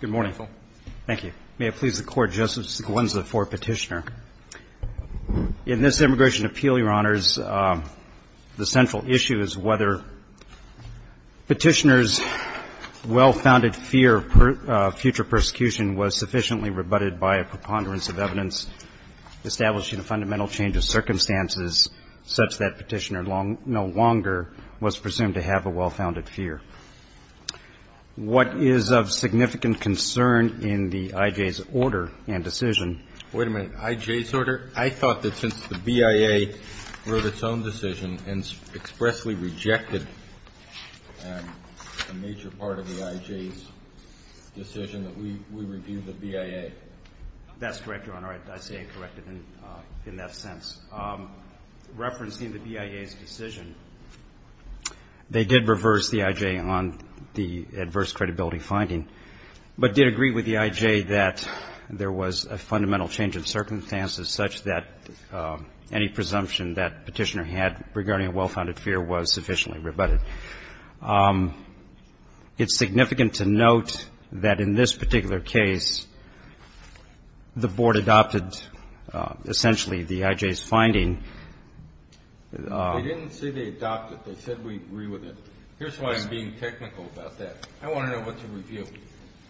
Good morning, Phil. Thank you. May it please the Court, Justice Gwendolyn for Petitioner. In this Immigration Appeal, Your Honors, the central issue is whether Petitioner's well-founded fear of future persecution was sufficiently rebutted by a preponderance of evidence establishing a fundamental change of circumstances such that Petitioner no longer was presumed to have a well-founded fear. What is of significant concern in the I.J.'s order and decision? Wait a minute. I.J.'s order? I thought that since the BIA wrote its own decision and expressly rejected a major part of the I.J.'s decision that we review the BIA. That's correct, Your Honor. I say it corrected in that sense. Referencing the BIA's decision, they did reverse the I.J. on the adverse credibility finding, but did agree with the I.J. that there was a fundamental change of circumstances such that any presumption that Petitioner had regarding a well-founded fear was sufficiently rebutted. It's significant to note that in this particular case, the Board adopted essentially the I.J.'s finding. They didn't say they adopted it. They said we agree with it. Here's why I'm being technical about that. I want to know what to review.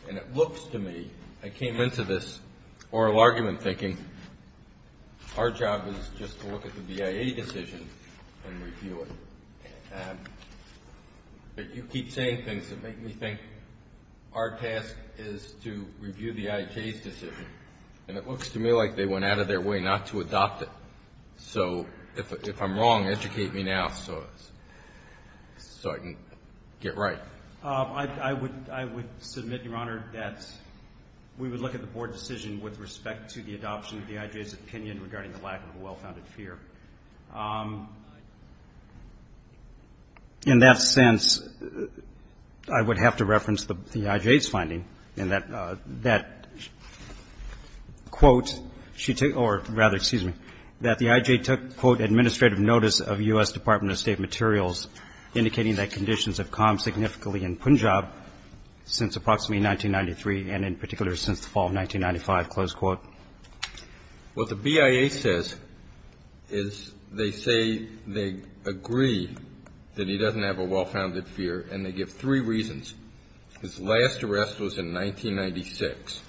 And it looks to me, I came into this oral argument thinking, our job is just to look at the BIA decision and review it. But you keep saying things that make me think our task is to review the I.J.'s decision. And it looks to me like they went out of their way not to adopt it. So if I'm wrong, educate me now so I can get right. I would submit, Your Honor, that we would look at the Board decision with respect to the adoption of the I.J.'s opinion regarding the lack of a well-founded fear. In that sense, I would have to reference the I.J.'s finding in that quote, or rather, excuse me, that the I.J. took, quote, administrative notice of U.S. Department of State materials indicating that conditions have calmed significantly in Punjab since approximately 1993 and in particular since the fall of 1995, close quote. What the BIA says is they say they agree that he doesn't have a well-founded fear, and they give three reasons. His last arrest was in 1996.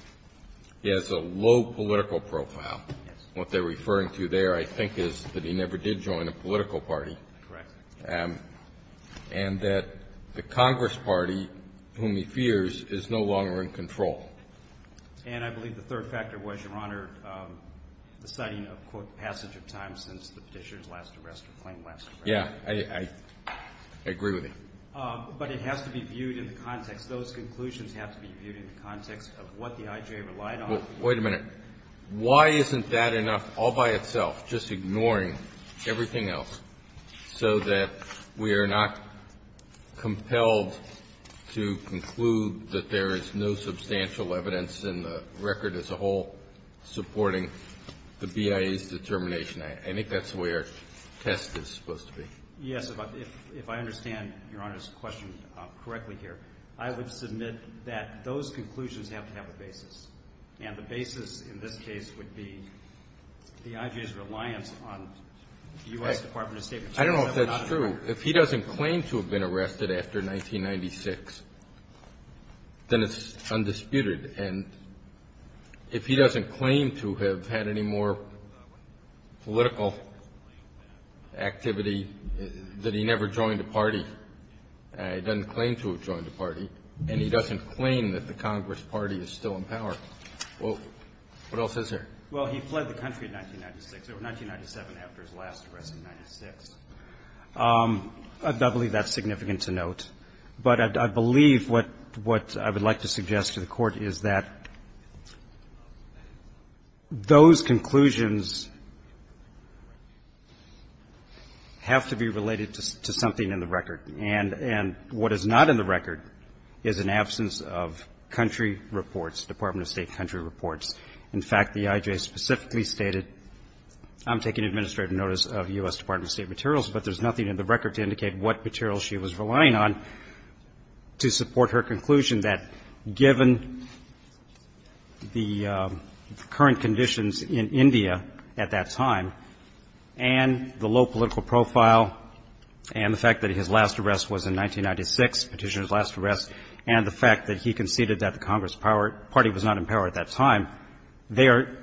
He has a low political profile. Yes. What they're referring to there, I think, is that he never did join a political Correct. And that the Congress party, whom he fears, is no longer in control. And I believe the third factor was, Your Honor, the citing of, quote, passage of time since the Petitioner's last arrest or claim last arrest. Yes. I agree with you. But it has to be viewed in the context. Those conclusions have to be viewed in the context of what the I.J. relied on. Well, wait a minute. Why isn't that enough all by itself, just ignoring everything else, so that we are not compelled to conclude that there is no substantial evidence in the record as a whole supporting the BIA's determination? I think that's the way our test is supposed to be. Yes. If I understand Your Honor's question correctly here, I would submit that those conclusions have to have a basis. And the basis in this case would be the I.J.'s reliance on the U.S. Department of State. I don't know if that's true. If he doesn't claim to have been arrested after 1996, then it's undisputed. And if he doesn't claim to have had any more political activity, that he never joined a party, he doesn't claim to have joined a party, and he doesn't claim that the What else is there? Well, he fled the country in 1996. It was 1997 after his last arrest in 1996. I believe that's significant to note. But I believe what I would like to suggest to the Court is that those conclusions have to be related to something in the record. And what is not in the record is an absence of country reports, Department of State country reports. In fact, the I.J. specifically stated, I'm taking administrative notice of U.S. Department of State materials, but there's nothing in the record to indicate what materials she was relying on to support her conclusion that given the current conditions in India at that time and the low political profile and the fact that his last arrest was in 1996, Petitioner's last arrest, and the fact that he conceded that the Congress Party was not in power at that time, they are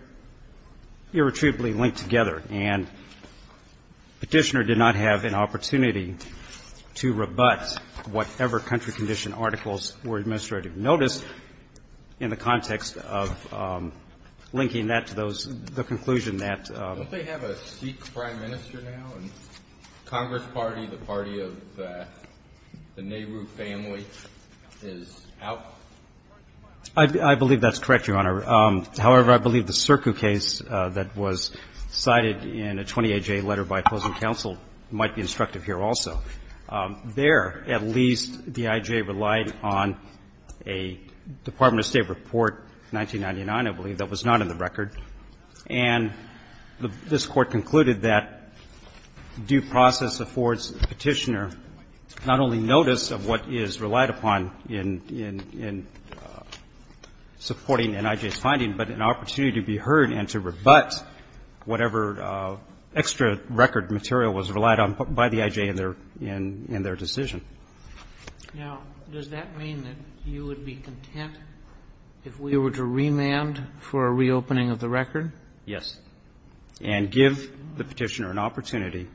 irretrievably linked together. And Petitioner did not have an opportunity to rebut whatever country condition articles were in administrative notice in the context of linking that to those the conclusion that. Kennedy. Don't they have a Sikh prime minister now, and Congress Party, the party of the Nehru family is out? Roberts. I believe that's correct, Your Honor. However, I believe the Circu case that was cited in a 20A.J. letter by opposing counsel might be instructive here also. There, at least, the I.J. relied on a Department of State report, 1999, I believe, that was not in the record. And this Court concluded that due process affords Petitioner not only notice of what is relied upon in supporting an I.J.'s finding, but an opportunity to be heard and to rebut whatever extra record material was relied on by the I.J. in their decision. Now, does that mean that you would be content if we were to remand for a reopening of the record? Yes. And give the Petitioner an opportunity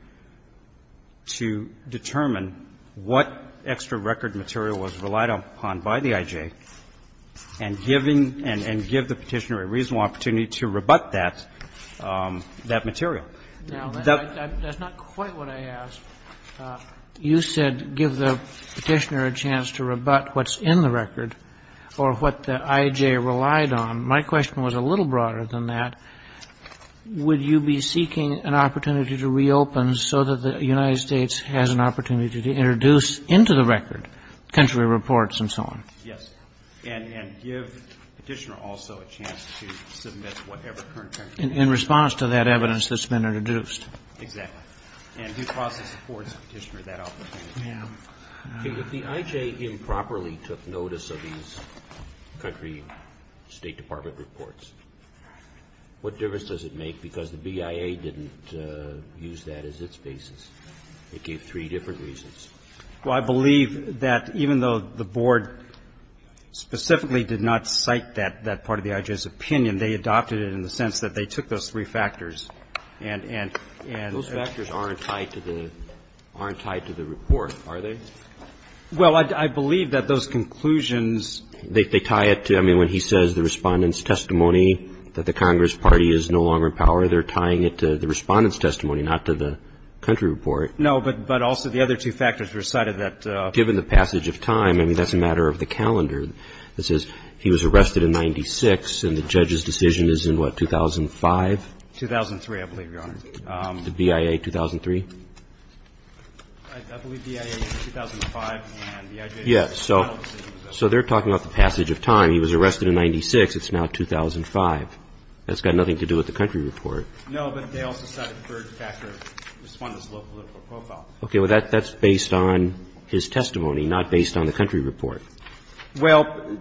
to determine what extra record material was relied upon by the I.J. and giving the Petitioner a reasonable opportunity to rebut that material. Now, that's not quite what I asked. You said give the Petitioner a chance to rebut what's in the record or what the I.J. relied on. My question was a little broader than that. Would you be seeking an opportunity to reopen so that the United States has an opportunity to introduce into the record country reports and so on? Yes. And give Petitioner also a chance to submit whatever current country reports. In response to that evidence that's been introduced. Exactly. And due process supports Petitioner that opportunity. Yeah. If the I.J. improperly took notice of these country State Department reports, what difference does it make? Because the BIA didn't use that as its basis. It gave three different reasons. Well, I believe that even though the Board specifically did not cite that part of the I.J.'s opinion, they adopted it in the sense that they took those three factors and Those factors aren't tied to the report, are they? Well, I believe that those conclusions They tie it to, I mean, when he says the Respondent's testimony that the Congress Party is no longer in power, they're tying it to the Respondent's testimony, not to the country report. No, but also the other two factors were cited that Given the passage of time, I mean, that's a matter of the calendar. It says he was arrested in 96, and the judge's decision is in what, 2005? 2003, I believe, Your Honor. The BIA 2003? I believe BIA is 2005, and the I.J. Yeah. So they're talking about the passage of time. He was arrested in 96. It's now 2005. That's got nothing to do with the country report. No, but they also cite a third factor, Respondent's low political profile. Okay. Well, that's based on his testimony, not based on the country report. Well,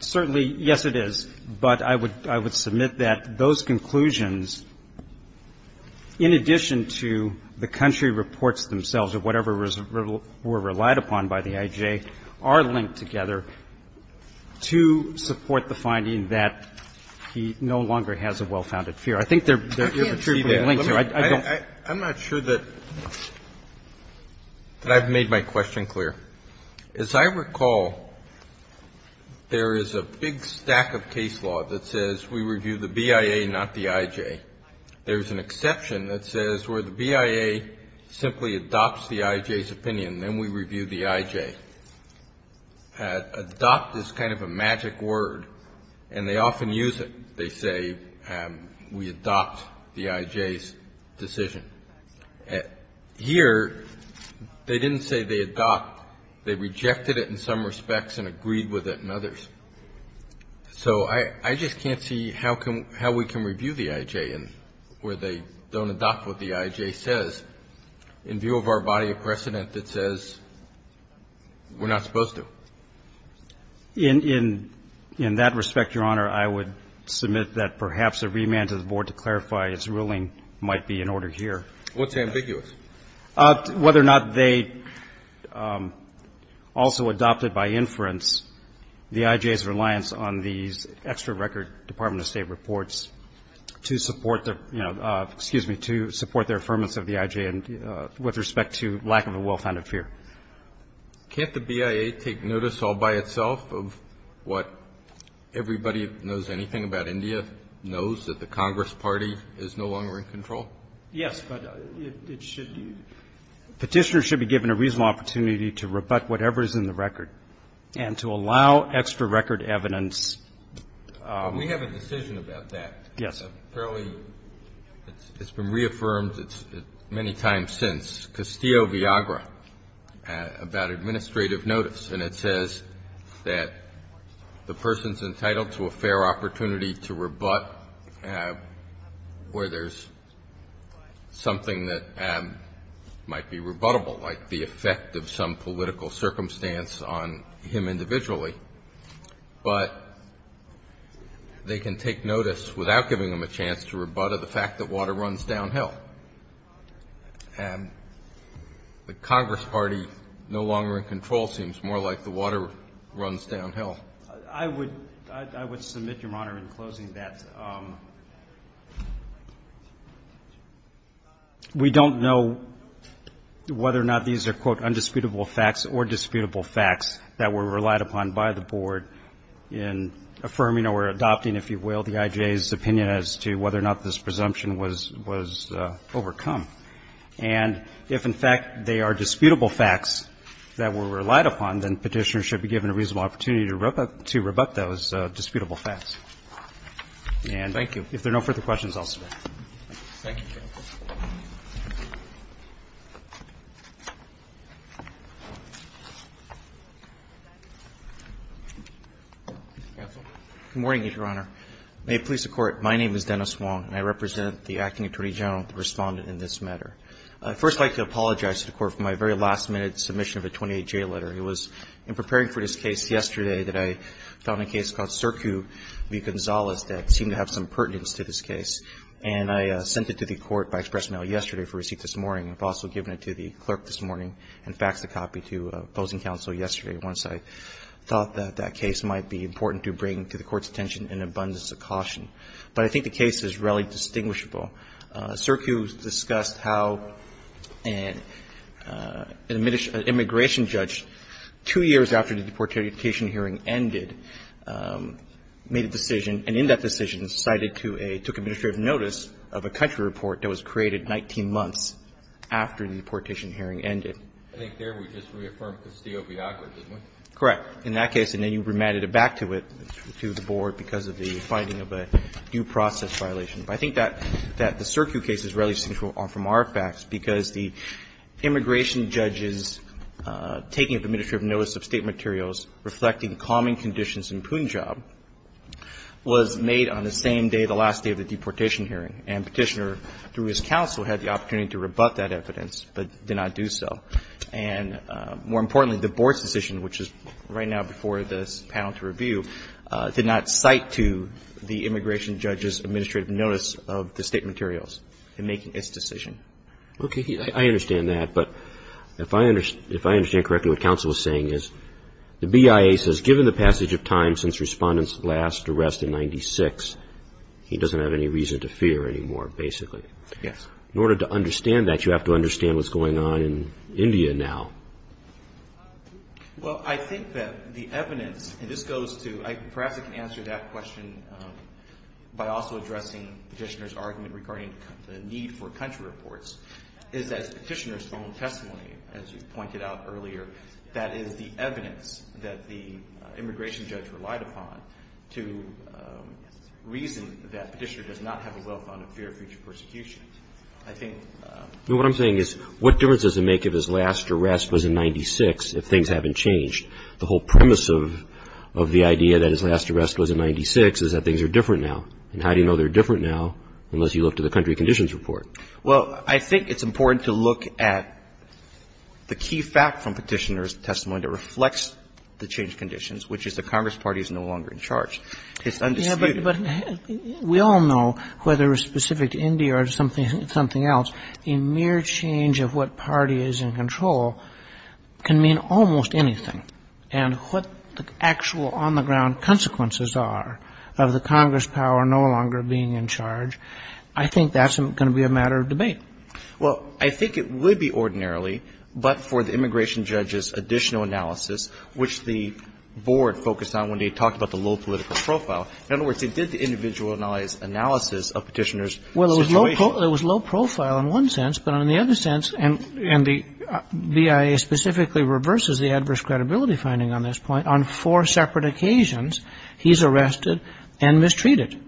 certainly, yes, it is. But I would submit that those conclusions, in addition to the country reports themselves or whatever were relied upon by the I.J., are linked together to support the finding that he no longer has a well-founded fear. I think they're mutually linked. I'm not sure that I've made my question clear. As I recall, there is a big stack of case law that says we review the BIA, not the I.J. There's an exception that says where the BIA simply adopts the I.J.'s opinion, then we review the I.J. Adopt is kind of a magic word, and they often use it. They say we adopt the I.J.'s decision. Here, they didn't say they adopt. They rejected it in some respects and agreed with it in others. So I just can't see how we can review the I.J. where they don't adopt what the I.J. says in view of our body of precedent that says we're not supposed to. In that respect, Your Honor, I would submit that perhaps a remand to the Board to clarify its ruling might be in order here. What's ambiguous? Whether or not they also adopted by inference the I.J.'s reliance on these extra record Department of State reports to support their, you know, excuse me, to support their affirmance of the I.J. with respect to lack of a well-founded fear. Can't the BIA take notice all by itself of what everybody who knows anything about India knows, that the Congress Party is no longer in control? Yes, but it should be. Petitioners should be given a reasonable opportunity to rebut whatever is in the record and to allow extra record evidence. We have a decision about that. Yes. Apparently, it's been reaffirmed many times since, Castillo-Viagra, about administrative notice. And it says that the person's entitled to a fair opportunity to rebut where there's something that might be rebuttable, like the effect of some political circumstance on him individually. But they can take notice without giving them a chance to rebut the fact that water runs downhill. And the Congress Party no longer in control seems more like the water runs downhill. I would submit, Your Honor, in closing that we don't know whether or not these are, quote, undisputable facts or disputable facts that were relied upon by the Board in affirming or adopting, if you will, the IJA's opinion as to whether or not this presumption was overcome. And if, in fact, they are disputable facts that were relied upon, then Petitioners should be given a reasonable opportunity to rebut those disputable facts. And if there are no further questions, I'll stop. Thank you, Your Honor. Counsel. Good morning, Your Honor. May it please the Court, my name is Dennis Wong, and I represent the Acting Attorney General, the Respondent in this matter. I'd first like to apologize to the Court for my very last-minute submission of a 28-J letter. It was in preparing for this case yesterday that I found a case called Circu v. Gonzalez that seemed to have some pertinence to this case. And I sent it to the Court by express mail yesterday for receipt this morning. I've also given it to the clerk this morning and faxed a copy to opposing counsel yesterday once I thought that that case might be important to bring to the Court's attention in abundance of caution. But I think the case is relatively distinguishable. Circu discussed how an immigration judge, two years after the deportation hearing ended, made a decision and in that decision cited to a – took administrative notice of a country report that was created 19 months after the deportation hearing ended. I think there we just reaffirmed Castillo v. Aqua, didn't we? Correct. In that case, and then you remanded it back to it, to the Board, because of the finding of a due process violation. But I think that the Circu case is relatively distinguishable from our facts because the immigration judge's taking of the administrative notice of state materials reflecting calming conditions in Punjab was made on the same day, the last day of the deportation hearing. And Petitioner, through his counsel, had the opportunity to rebut that evidence but did not do so. And more importantly, the Board's decision, which is right now before this panel to review, did not cite to the immigration judge's administrative notice of the state materials in making its decision. Okay. I understand that. But if I understand correctly, what counsel is saying is the BIA says given the passage of time since Respondent's last arrest in 1996, he doesn't have any reason to fear anymore, basically. Yes. In order to understand that, you have to understand what's going on in India now. Well, I think that the evidence – and this goes to – perhaps I can answer that question by also addressing Petitioner's argument regarding the need for country reports, is that Petitioner's own testimony, as you pointed out earlier, that is the evidence that the immigration judge relied upon to reason that Petitioner does not have a well-founded fear of future persecution. I think – What I'm saying is what difference does it make if his last arrest was in 1996 if things haven't changed? The whole premise of the idea that his last arrest was in 1996 is that things are different now. And how do you know they're different now unless you look to the country conditions report? Well, I think it's important to look at the key fact from Petitioner's testimony that reflects the changed conditions, which is the Congress party is no longer in charge. It's undisputed. Yes, but we all know whether it's specific to India or something else, a mere change of what party is in control can mean almost anything. And what the actual on-the-ground consequences are of the Congress power no longer being in charge, I think that's going to be a matter of debate. Well, I think it would be ordinarily, but for the immigration judge's additional analysis, which the board focused on when they talked about the low political profile – in other words, they did the individualized analysis of Petitioner's situation. It was low profile in one sense, but in the other sense, and the BIA specifically reverses the adverse credibility finding on this point, on four separate occasions he's arrested and mistreated.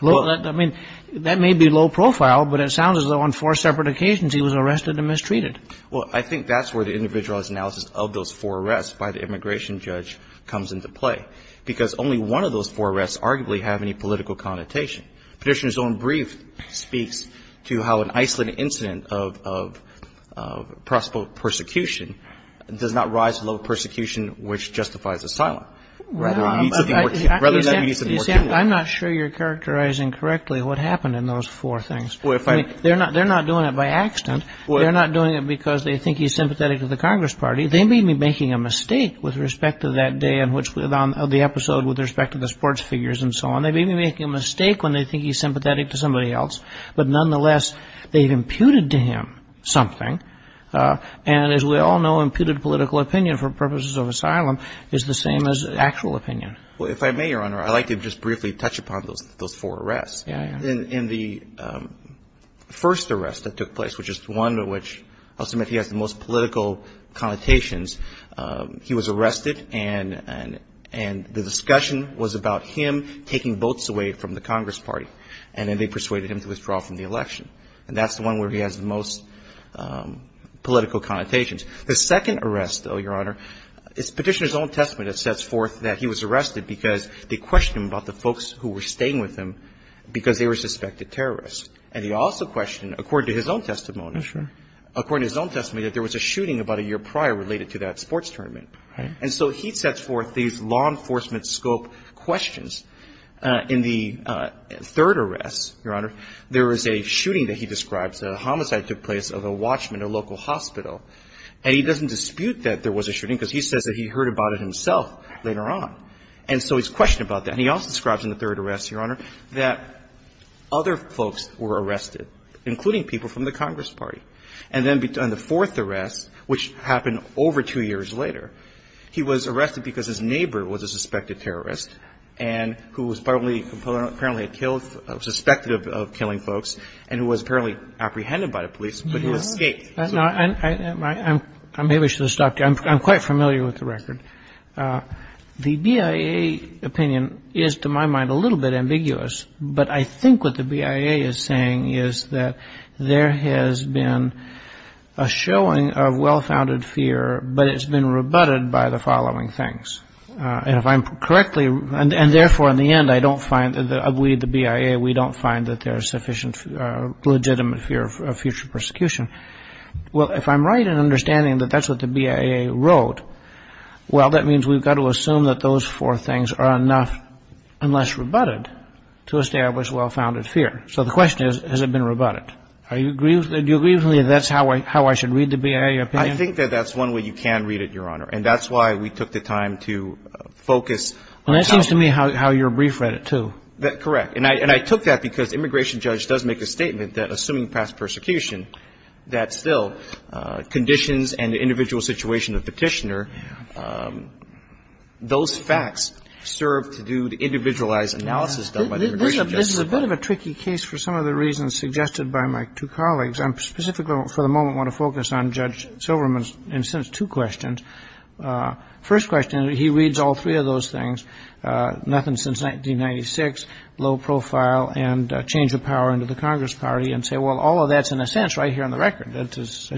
I mean, that may be low profile, but it sounds as though on four separate occasions he was arrested and mistreated. Well, I think that's where the individualized analysis of those four arrests by the immigration judge comes into play, because only one of those four arrests arguably have any political connotation. Petitioner's own brief speaks to how an isolated incident of prosecutable persecution does not rise to the level of persecution which justifies asylum, rather than it needs to be more criminal. I'm not sure you're characterizing correctly what happened in those four things. I mean, they're not doing it by accident. They're not doing it because they think he's sympathetic to the Congress party. They may be making a mistake with respect to that day in which the episode with respect to the sports figures and so on. They may be making a mistake when they think he's sympathetic to somebody else, but nonetheless they've imputed to him something, and as we all know, imputed political opinion for purposes of asylum is the same as actual opinion. Well, if I may, Your Honor, I'd like to just briefly touch upon those four arrests. Yeah, yeah. In the first arrest that took place, which is one in which I'll submit he has the most political connotations, he was arrested and the discussion was about him taking votes away from the Congress party, and then they persuaded him to withdraw from the election. And that's the one where he has the most political connotations. The second arrest, though, Your Honor, is Petitioner's own testimony that sets forth that he was arrested because they questioned him about the folks who were staying with him because they were suspected terrorists. And he also questioned, according to his own testimony, according to his own testimony, that there was a shooting about a year prior related to that sports tournament. And so he sets forth these law enforcement scope questions. In the third arrest, Your Honor, there was a shooting that he describes, a homicide took place of a watchman at a local hospital. And he doesn't dispute that there was a shooting because he says that he heard about it himself later on. And so he's questioned about that. And he also describes in the third arrest, Your Honor, that other folks were arrested, including people from the Congress party. And then in the fourth arrest, which happened over two years later, he was arrested because his neighbor was a suspected terrorist and who was apparently killed, suspected of killing folks, and who was apparently apprehended by the police, but he escaped. I may wish to stop there. I'm quite familiar with the record. The BIA opinion is, to my mind, a little bit ambiguous. But I think what the BIA is saying is that there has been a showing of well-founded fear, but it's been rebutted by the following things. And if I'm correctly, and therefore, in the end, I don't find that we at the BIA, we don't find that there's sufficient legitimate fear of future persecution. Well, if I'm right in understanding that that's what the BIA wrote, well, that means we've got to assume that those four things are enough, unless rebutted, to establish well-founded fear. So the question is, has it been rebutted? Do you agree with me that that's how I should read the BIA opinion? I think that that's one way you can read it, Your Honor. And that's why we took the time to focus. Well, that seems to me how your brief read it, too. Correct. And I took that because the immigration judge does make a statement that, assuming past persecution, that still conditions and the individual situation of the individualized analysis done by the immigration judge. This is a bit of a tricky case for some of the reasons suggested by my two colleagues. I specifically, for the moment, want to focus on Judge Silverman's two questions. First question, he reads all three of those things, nothing since 1996, low profile and change of power into the Congress party, and say, well, all of that's in a sense right here on the record.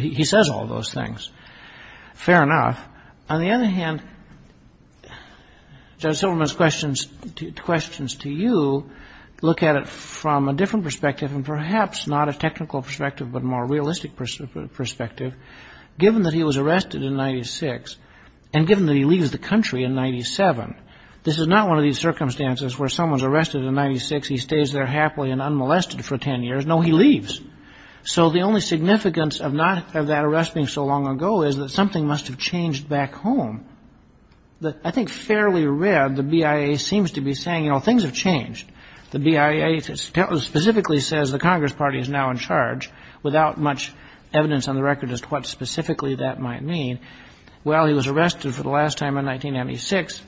He says all those things. Fair enough. On the other hand, Judge Silverman's questions to you look at it from a different perspective and perhaps not a technical perspective but a more realistic perspective. Given that he was arrested in 1996 and given that he leaves the country in 1997, this is not one of these circumstances where someone's arrested in 1996, he stays there happily and unmolested for 10 years. No, he leaves. So the only significance of that arrest being so long ago is that something must have changed back home. I think fairly read, the BIA seems to be saying, you know, things have changed. The BIA specifically says the Congress party is now in charge, without much evidence on the record as to what specifically that might mean. Well, he was arrested for the last time in 1996,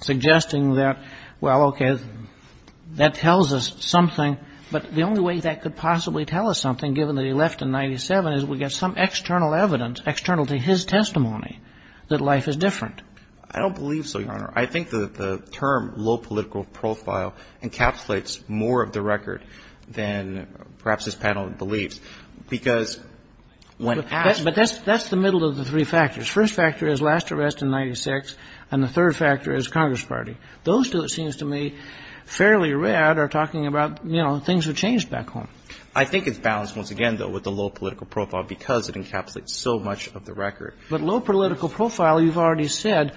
suggesting that, well, okay, that tells us something. But the only way that could possibly tell us something, given that he left in 1997 is we get some external evidence, external to his testimony that life is different. I don't believe so, Your Honor. I think that the term low political profile encapsulates more of the record than perhaps this panel believes because when asked. But that's the middle of the three factors. First factor is last arrest in 1996, and the third factor is Congress party. Those two, it seems to me, fairly read are talking about, you know, things have changed back home. I think it's balanced, once again, though, with the low political profile because it encapsulates so much of the record. But low political profile, you've already said,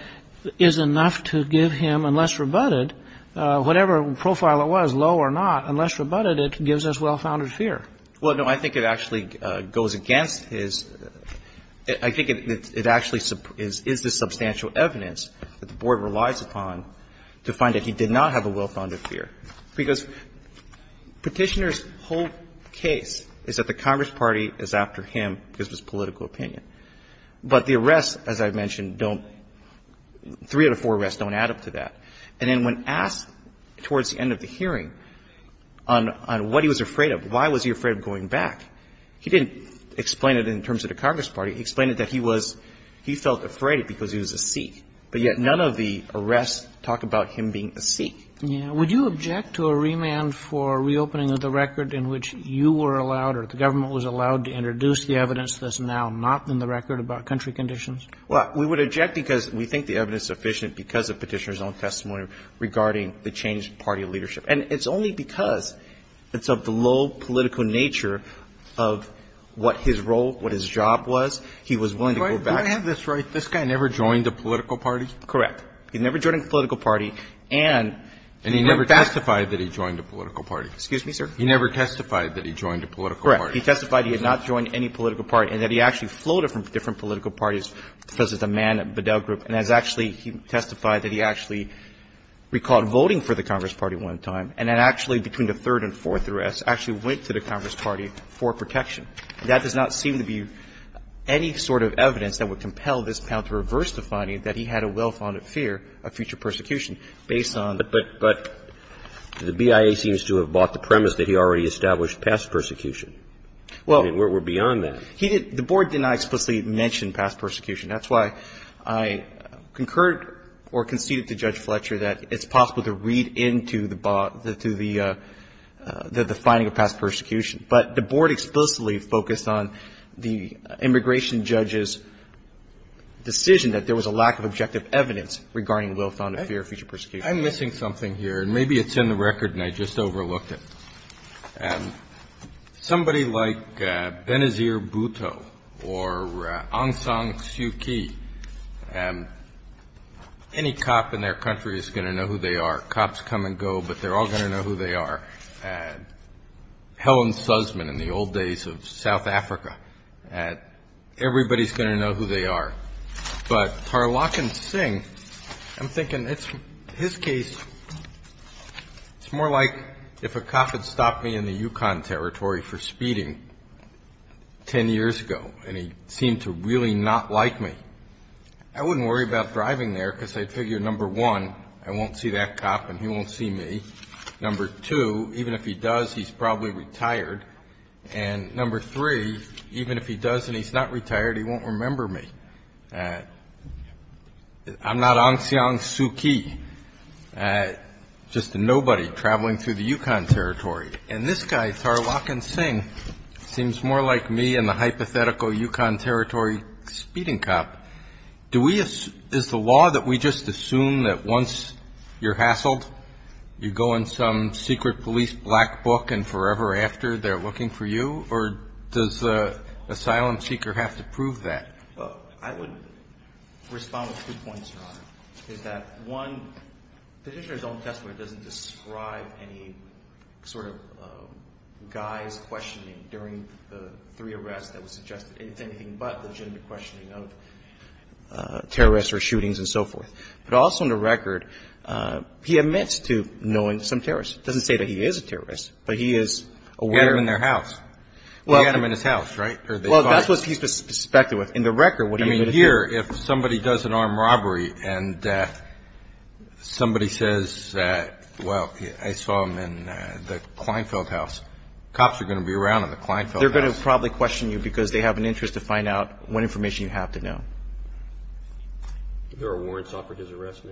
is enough to give him, unless rebutted, whatever profile it was, low or not, unless rebutted, it gives us well-founded fear. Well, no, I think it actually goes against his. I think it actually is the substantial evidence that the Board relies upon to find that he did not have a well-founded fear because Petitioner's whole case is that the Congress party is after him because of his political opinion. But the arrests, as I mentioned, don't three out of four arrests don't add up to that. And then when asked towards the end of the hearing on what he was afraid of, why was he afraid of going back, he didn't explain it in terms of the Congress party. He explained it that he was, he felt afraid because he was a Sikh. But yet none of the arrests talk about him being a Sikh. Yeah. Would you object to a remand for reopening of the record in which you were allowed or the government was allowed to introduce the evidence that's now not in the record about country conditions? Well, we would object because we think the evidence is sufficient because of Petitioner's own testimony regarding the changed party leadership. And it's only because it's of the low political nature of what his role, what his job was, he was willing to go back. Do I have this right? This guy never joined a political party? Correct. He never joined a political party and he went back. And he never testified that he joined a political party. Excuse me, sir? He never testified that he joined a political party. Correct. He testified he had not joined any political party and that he actually floated from different political parties because he's a man at Bedell Group. And as actually he testified that he actually recalled voting for the Congress party one time and then actually between the third and fourth arrests actually went to the Congress party for protection. That does not seem to be any sort of evidence that would compel this panel to reverse the finding that he had a well-founded fear of future persecution based on the fact that the BIA seems to have bought the premise that he already established past persecution. Well. I mean, we're beyond that. He did. The board did not explicitly mention past persecution. That's why I concurred or conceded to Judge Fletcher that it's possible to read into the finding of past persecution, but the board explicitly focused on the immigration judge's decision that there was a lack of objective evidence regarding well-founded fear of future persecution. I'm missing something here. Maybe it's in the record and I just overlooked it. Somebody like Benazir Bhutto or Aung San Suu Kyi, any cop in their country is going to know who they are. Cops come and go, but they're all going to know who they are. Helen Sussman in the old days of South Africa. Everybody's going to know who they are. But Tarlakan Singh, I'm thinking it's his case, it's more like if a cop had stopped me in the Yukon Territory for speeding 10 years ago and he seemed to really not like me, I wouldn't worry about driving there because I'd figure, number one, I won't see that cop and he won't see me. Number two, even if he does, he's probably retired. And number three, even if he does and he's not retired, he won't remember me. I'm not Aung San Suu Kyi, just a nobody traveling through the Yukon Territory. And this guy, Tarlakan Singh, seems more like me and the hypothetical Yukon Territory speeding cop. Do we assume, is the law that we just assume that once you're hassled, you go in some secret police black book and forever after they're looking for you? Or does the asylum seeker have to prove that? The question I have is that one, petitioner's own testimony doesn't describe any sort of guy's questioning during the three arrests that was suggested. It's anything but the gender questioning of terrorists or shootings and so forth. But also in the record, he admits to knowing some terrorists. It doesn't say that he is a terrorist, but he is aware. He had them in their house. Well. He had them in his house, right? Well, that's what he's suspected with. In the record, what are you going to say? I mean, here, if somebody does an armed robbery and somebody says that, well, I saw him in the Kleinfeld house. Cops are going to be around in the Kleinfeld house. They're going to probably question you because they have an interest to find out what information you have to know. There are warrants offered his arrest now?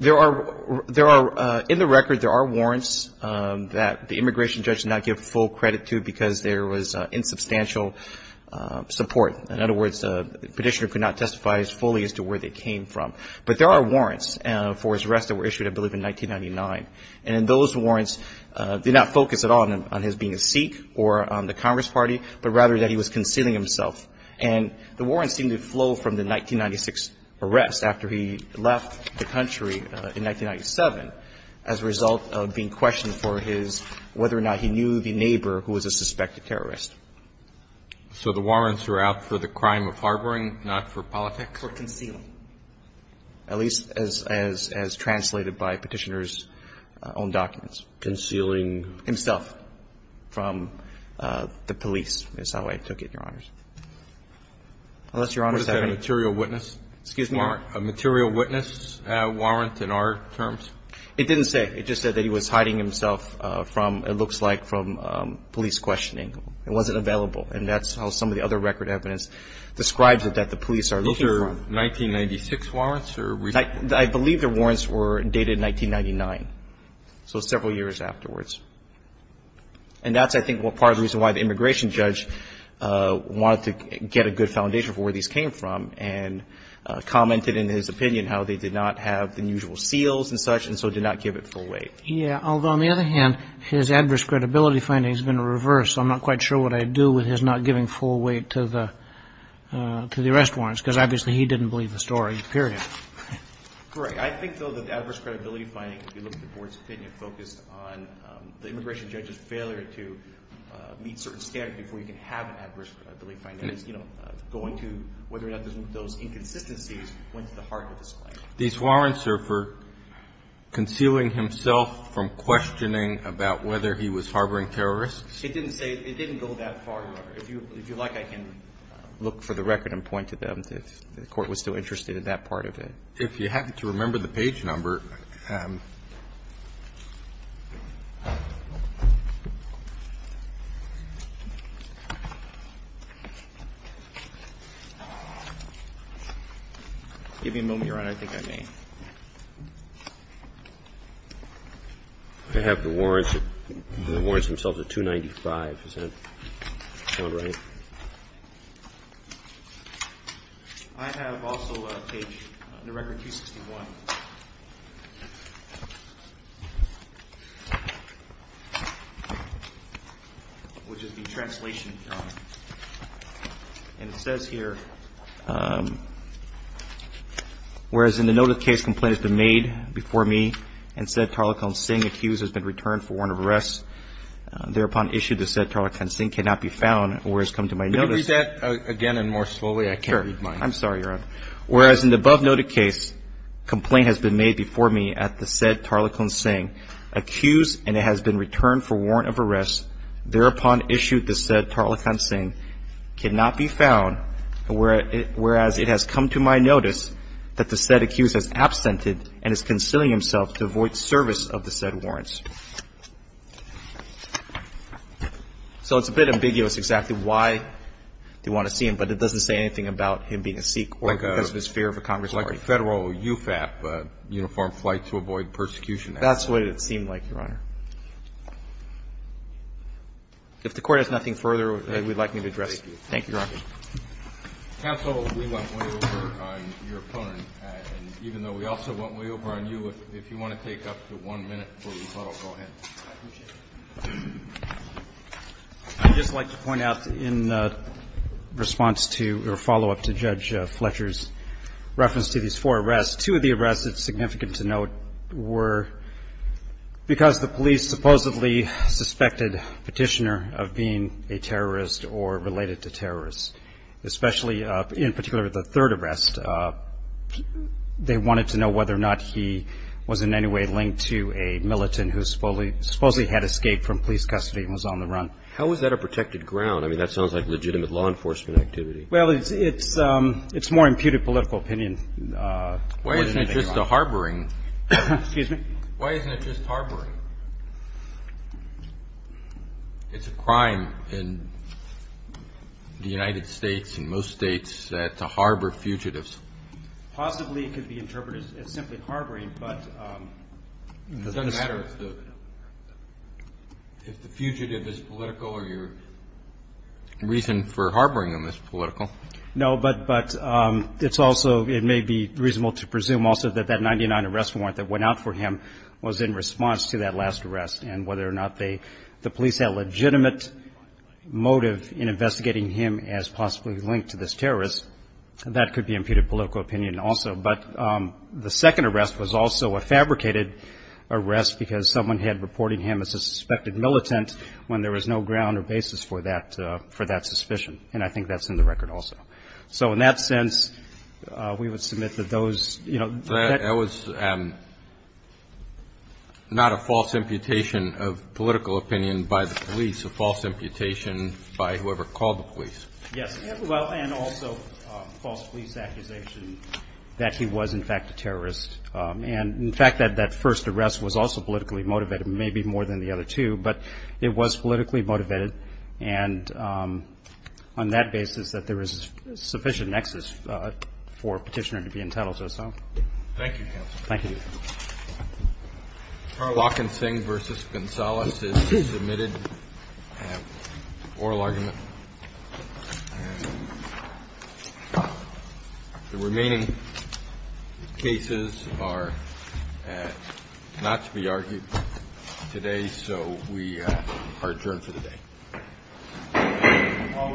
There are. In the record, there are warrants that the immigration judge did not give full credit to because there was insubstantial support. In other words, the petitioner could not testify as fully as to where they came from. But there are warrants for his arrest that were issued, I believe, in 1999. And those warrants did not focus at all on his being a Sikh or on the Congress Party, but rather that he was concealing himself. And the warrants seem to flow from the 1996 arrest after he left the country in 1997 as a result of being a suspected terrorist. So the warrants are out for the crime of harboring, not for politics? For concealing. At least as translated by Petitioner's own documents. Concealing? Himself from the police is how I took it, Your Honors. Unless Your Honors have any questions. Was that a material witness? Excuse me? A material witness warrant in our terms? It didn't say. It just said that he was hiding himself from, it looks like, from police questioning. It wasn't available. And that's how some of the other record evidence describes it, that the police are looking for. Those are 1996 warrants? I believe the warrants were dated 1999. So several years afterwards. And that's, I think, part of the reason why the immigration judge wanted to get a good foundation for where these came from and commented in his opinion how they did not have the usual seals and such and so did not give it full weight. Yeah. Although, on the other hand, his adverse credibility finding has been reversed. So I'm not quite sure what I'd do with his not giving full weight to the arrest warrants because obviously he didn't believe the story, period. Right. I think, though, that the adverse credibility finding, if you look at the Board's opinion, focused on the immigration judge's failure to meet certain standards before you can have an adverse credibility finding, is going to whether or not those inconsistencies went to the heart of this claim. These warrants are for concealing himself from questioning about whether he was harboring terrorists? It didn't say. It didn't go that far, Your Honor. If you'd like, I can look for the record and point to them if the Court was still interested in that part of it. If you happen to remember the page number. Give me a moment, Your Honor. I think I may. I have the warrants. The warrants themselves are 295. Is that not right? I have also a page, under Record 261, which is the translation, Your Honor. And it says here, whereas in the note of case complaint has been made before me and said Tarlequin Singh accused has been returned for warrant of arrest, thereupon issued the said Tarlequin Singh cannot be found, whereas come to my notice. Could you read that again and more slowly? I can't read mine. Sure. I'm sorry, Your Honor. Whereas in the above noted case complaint has been made before me at the said Tarlequin Singh accused and it has been returned for warrant of arrest, thereupon issued the said Tarlequin Singh cannot be found, whereas it has come to my notice that the said accused has absented and is concealing himself to avoid service of the said warrants. So it's a bit ambiguous exactly why they want to see him, but it doesn't say anything about him being a Sikh or because of his fear of a Congress party. Like a Federal UFAP, Uniformed Flight to Avoid Persecution Act. That's the way it seemed like, Your Honor. If the Court has nothing further that you would like me to address, thank you, Your Honor. Counsel, we went way over on your opponent, and even though we also went way over on you, if you want to take up to one minute before we follow, go ahead. I'd just like to point out in response to or follow-up to Judge Fletcher's reference to these four arrests, two of the arrests that are significant to note were because the police supposedly suspected Petitioner of being a terrorist or related to terrorists, especially in particular the third arrest. They wanted to know whether or not he was in any way linked to a militant who supposedly had escaped from police custody and was on the run. How is that a protected ground? I mean, that sounds like legitimate law enforcement activity. Well, it's more imputed political opinion. Why isn't it just a harboring? Excuse me? Why isn't it just harboring? It's a crime in the United States and most states to harbor fugitives. Possibly it could be interpreted as simply harboring, but it doesn't matter if the fugitive is political or your reason for harboring them is political. No, but it's also, it may be reasonable to presume also that that 99 arrest warrant that went out for him was in response to that last arrest and whether or not the police had legitimate motive in investigating him as possibly linked to this terrorist. That could be imputed political opinion also. But the second arrest was also a fabricated arrest because someone had reported him as a suspected militant when there was no ground or basis for that suspicion, and I think that's in the record also. So in that sense, we would submit that those, you know. That was not a false imputation of political opinion by the police, a false imputation by whoever called the police. Yes. Well, and also false police accusation that he was, in fact, a terrorist. And, in fact, that first arrest was also politically motivated, maybe more than the other two, but it was politically motivated. And on that basis, that there is sufficient nexus for a petitioner to be entitled to assault. Thank you, counsel. Thank you. Barlock and Singh v. Gonzales is submitted an oral argument. The remaining cases are not to be argued today, so we are adjourned for the day. All rise.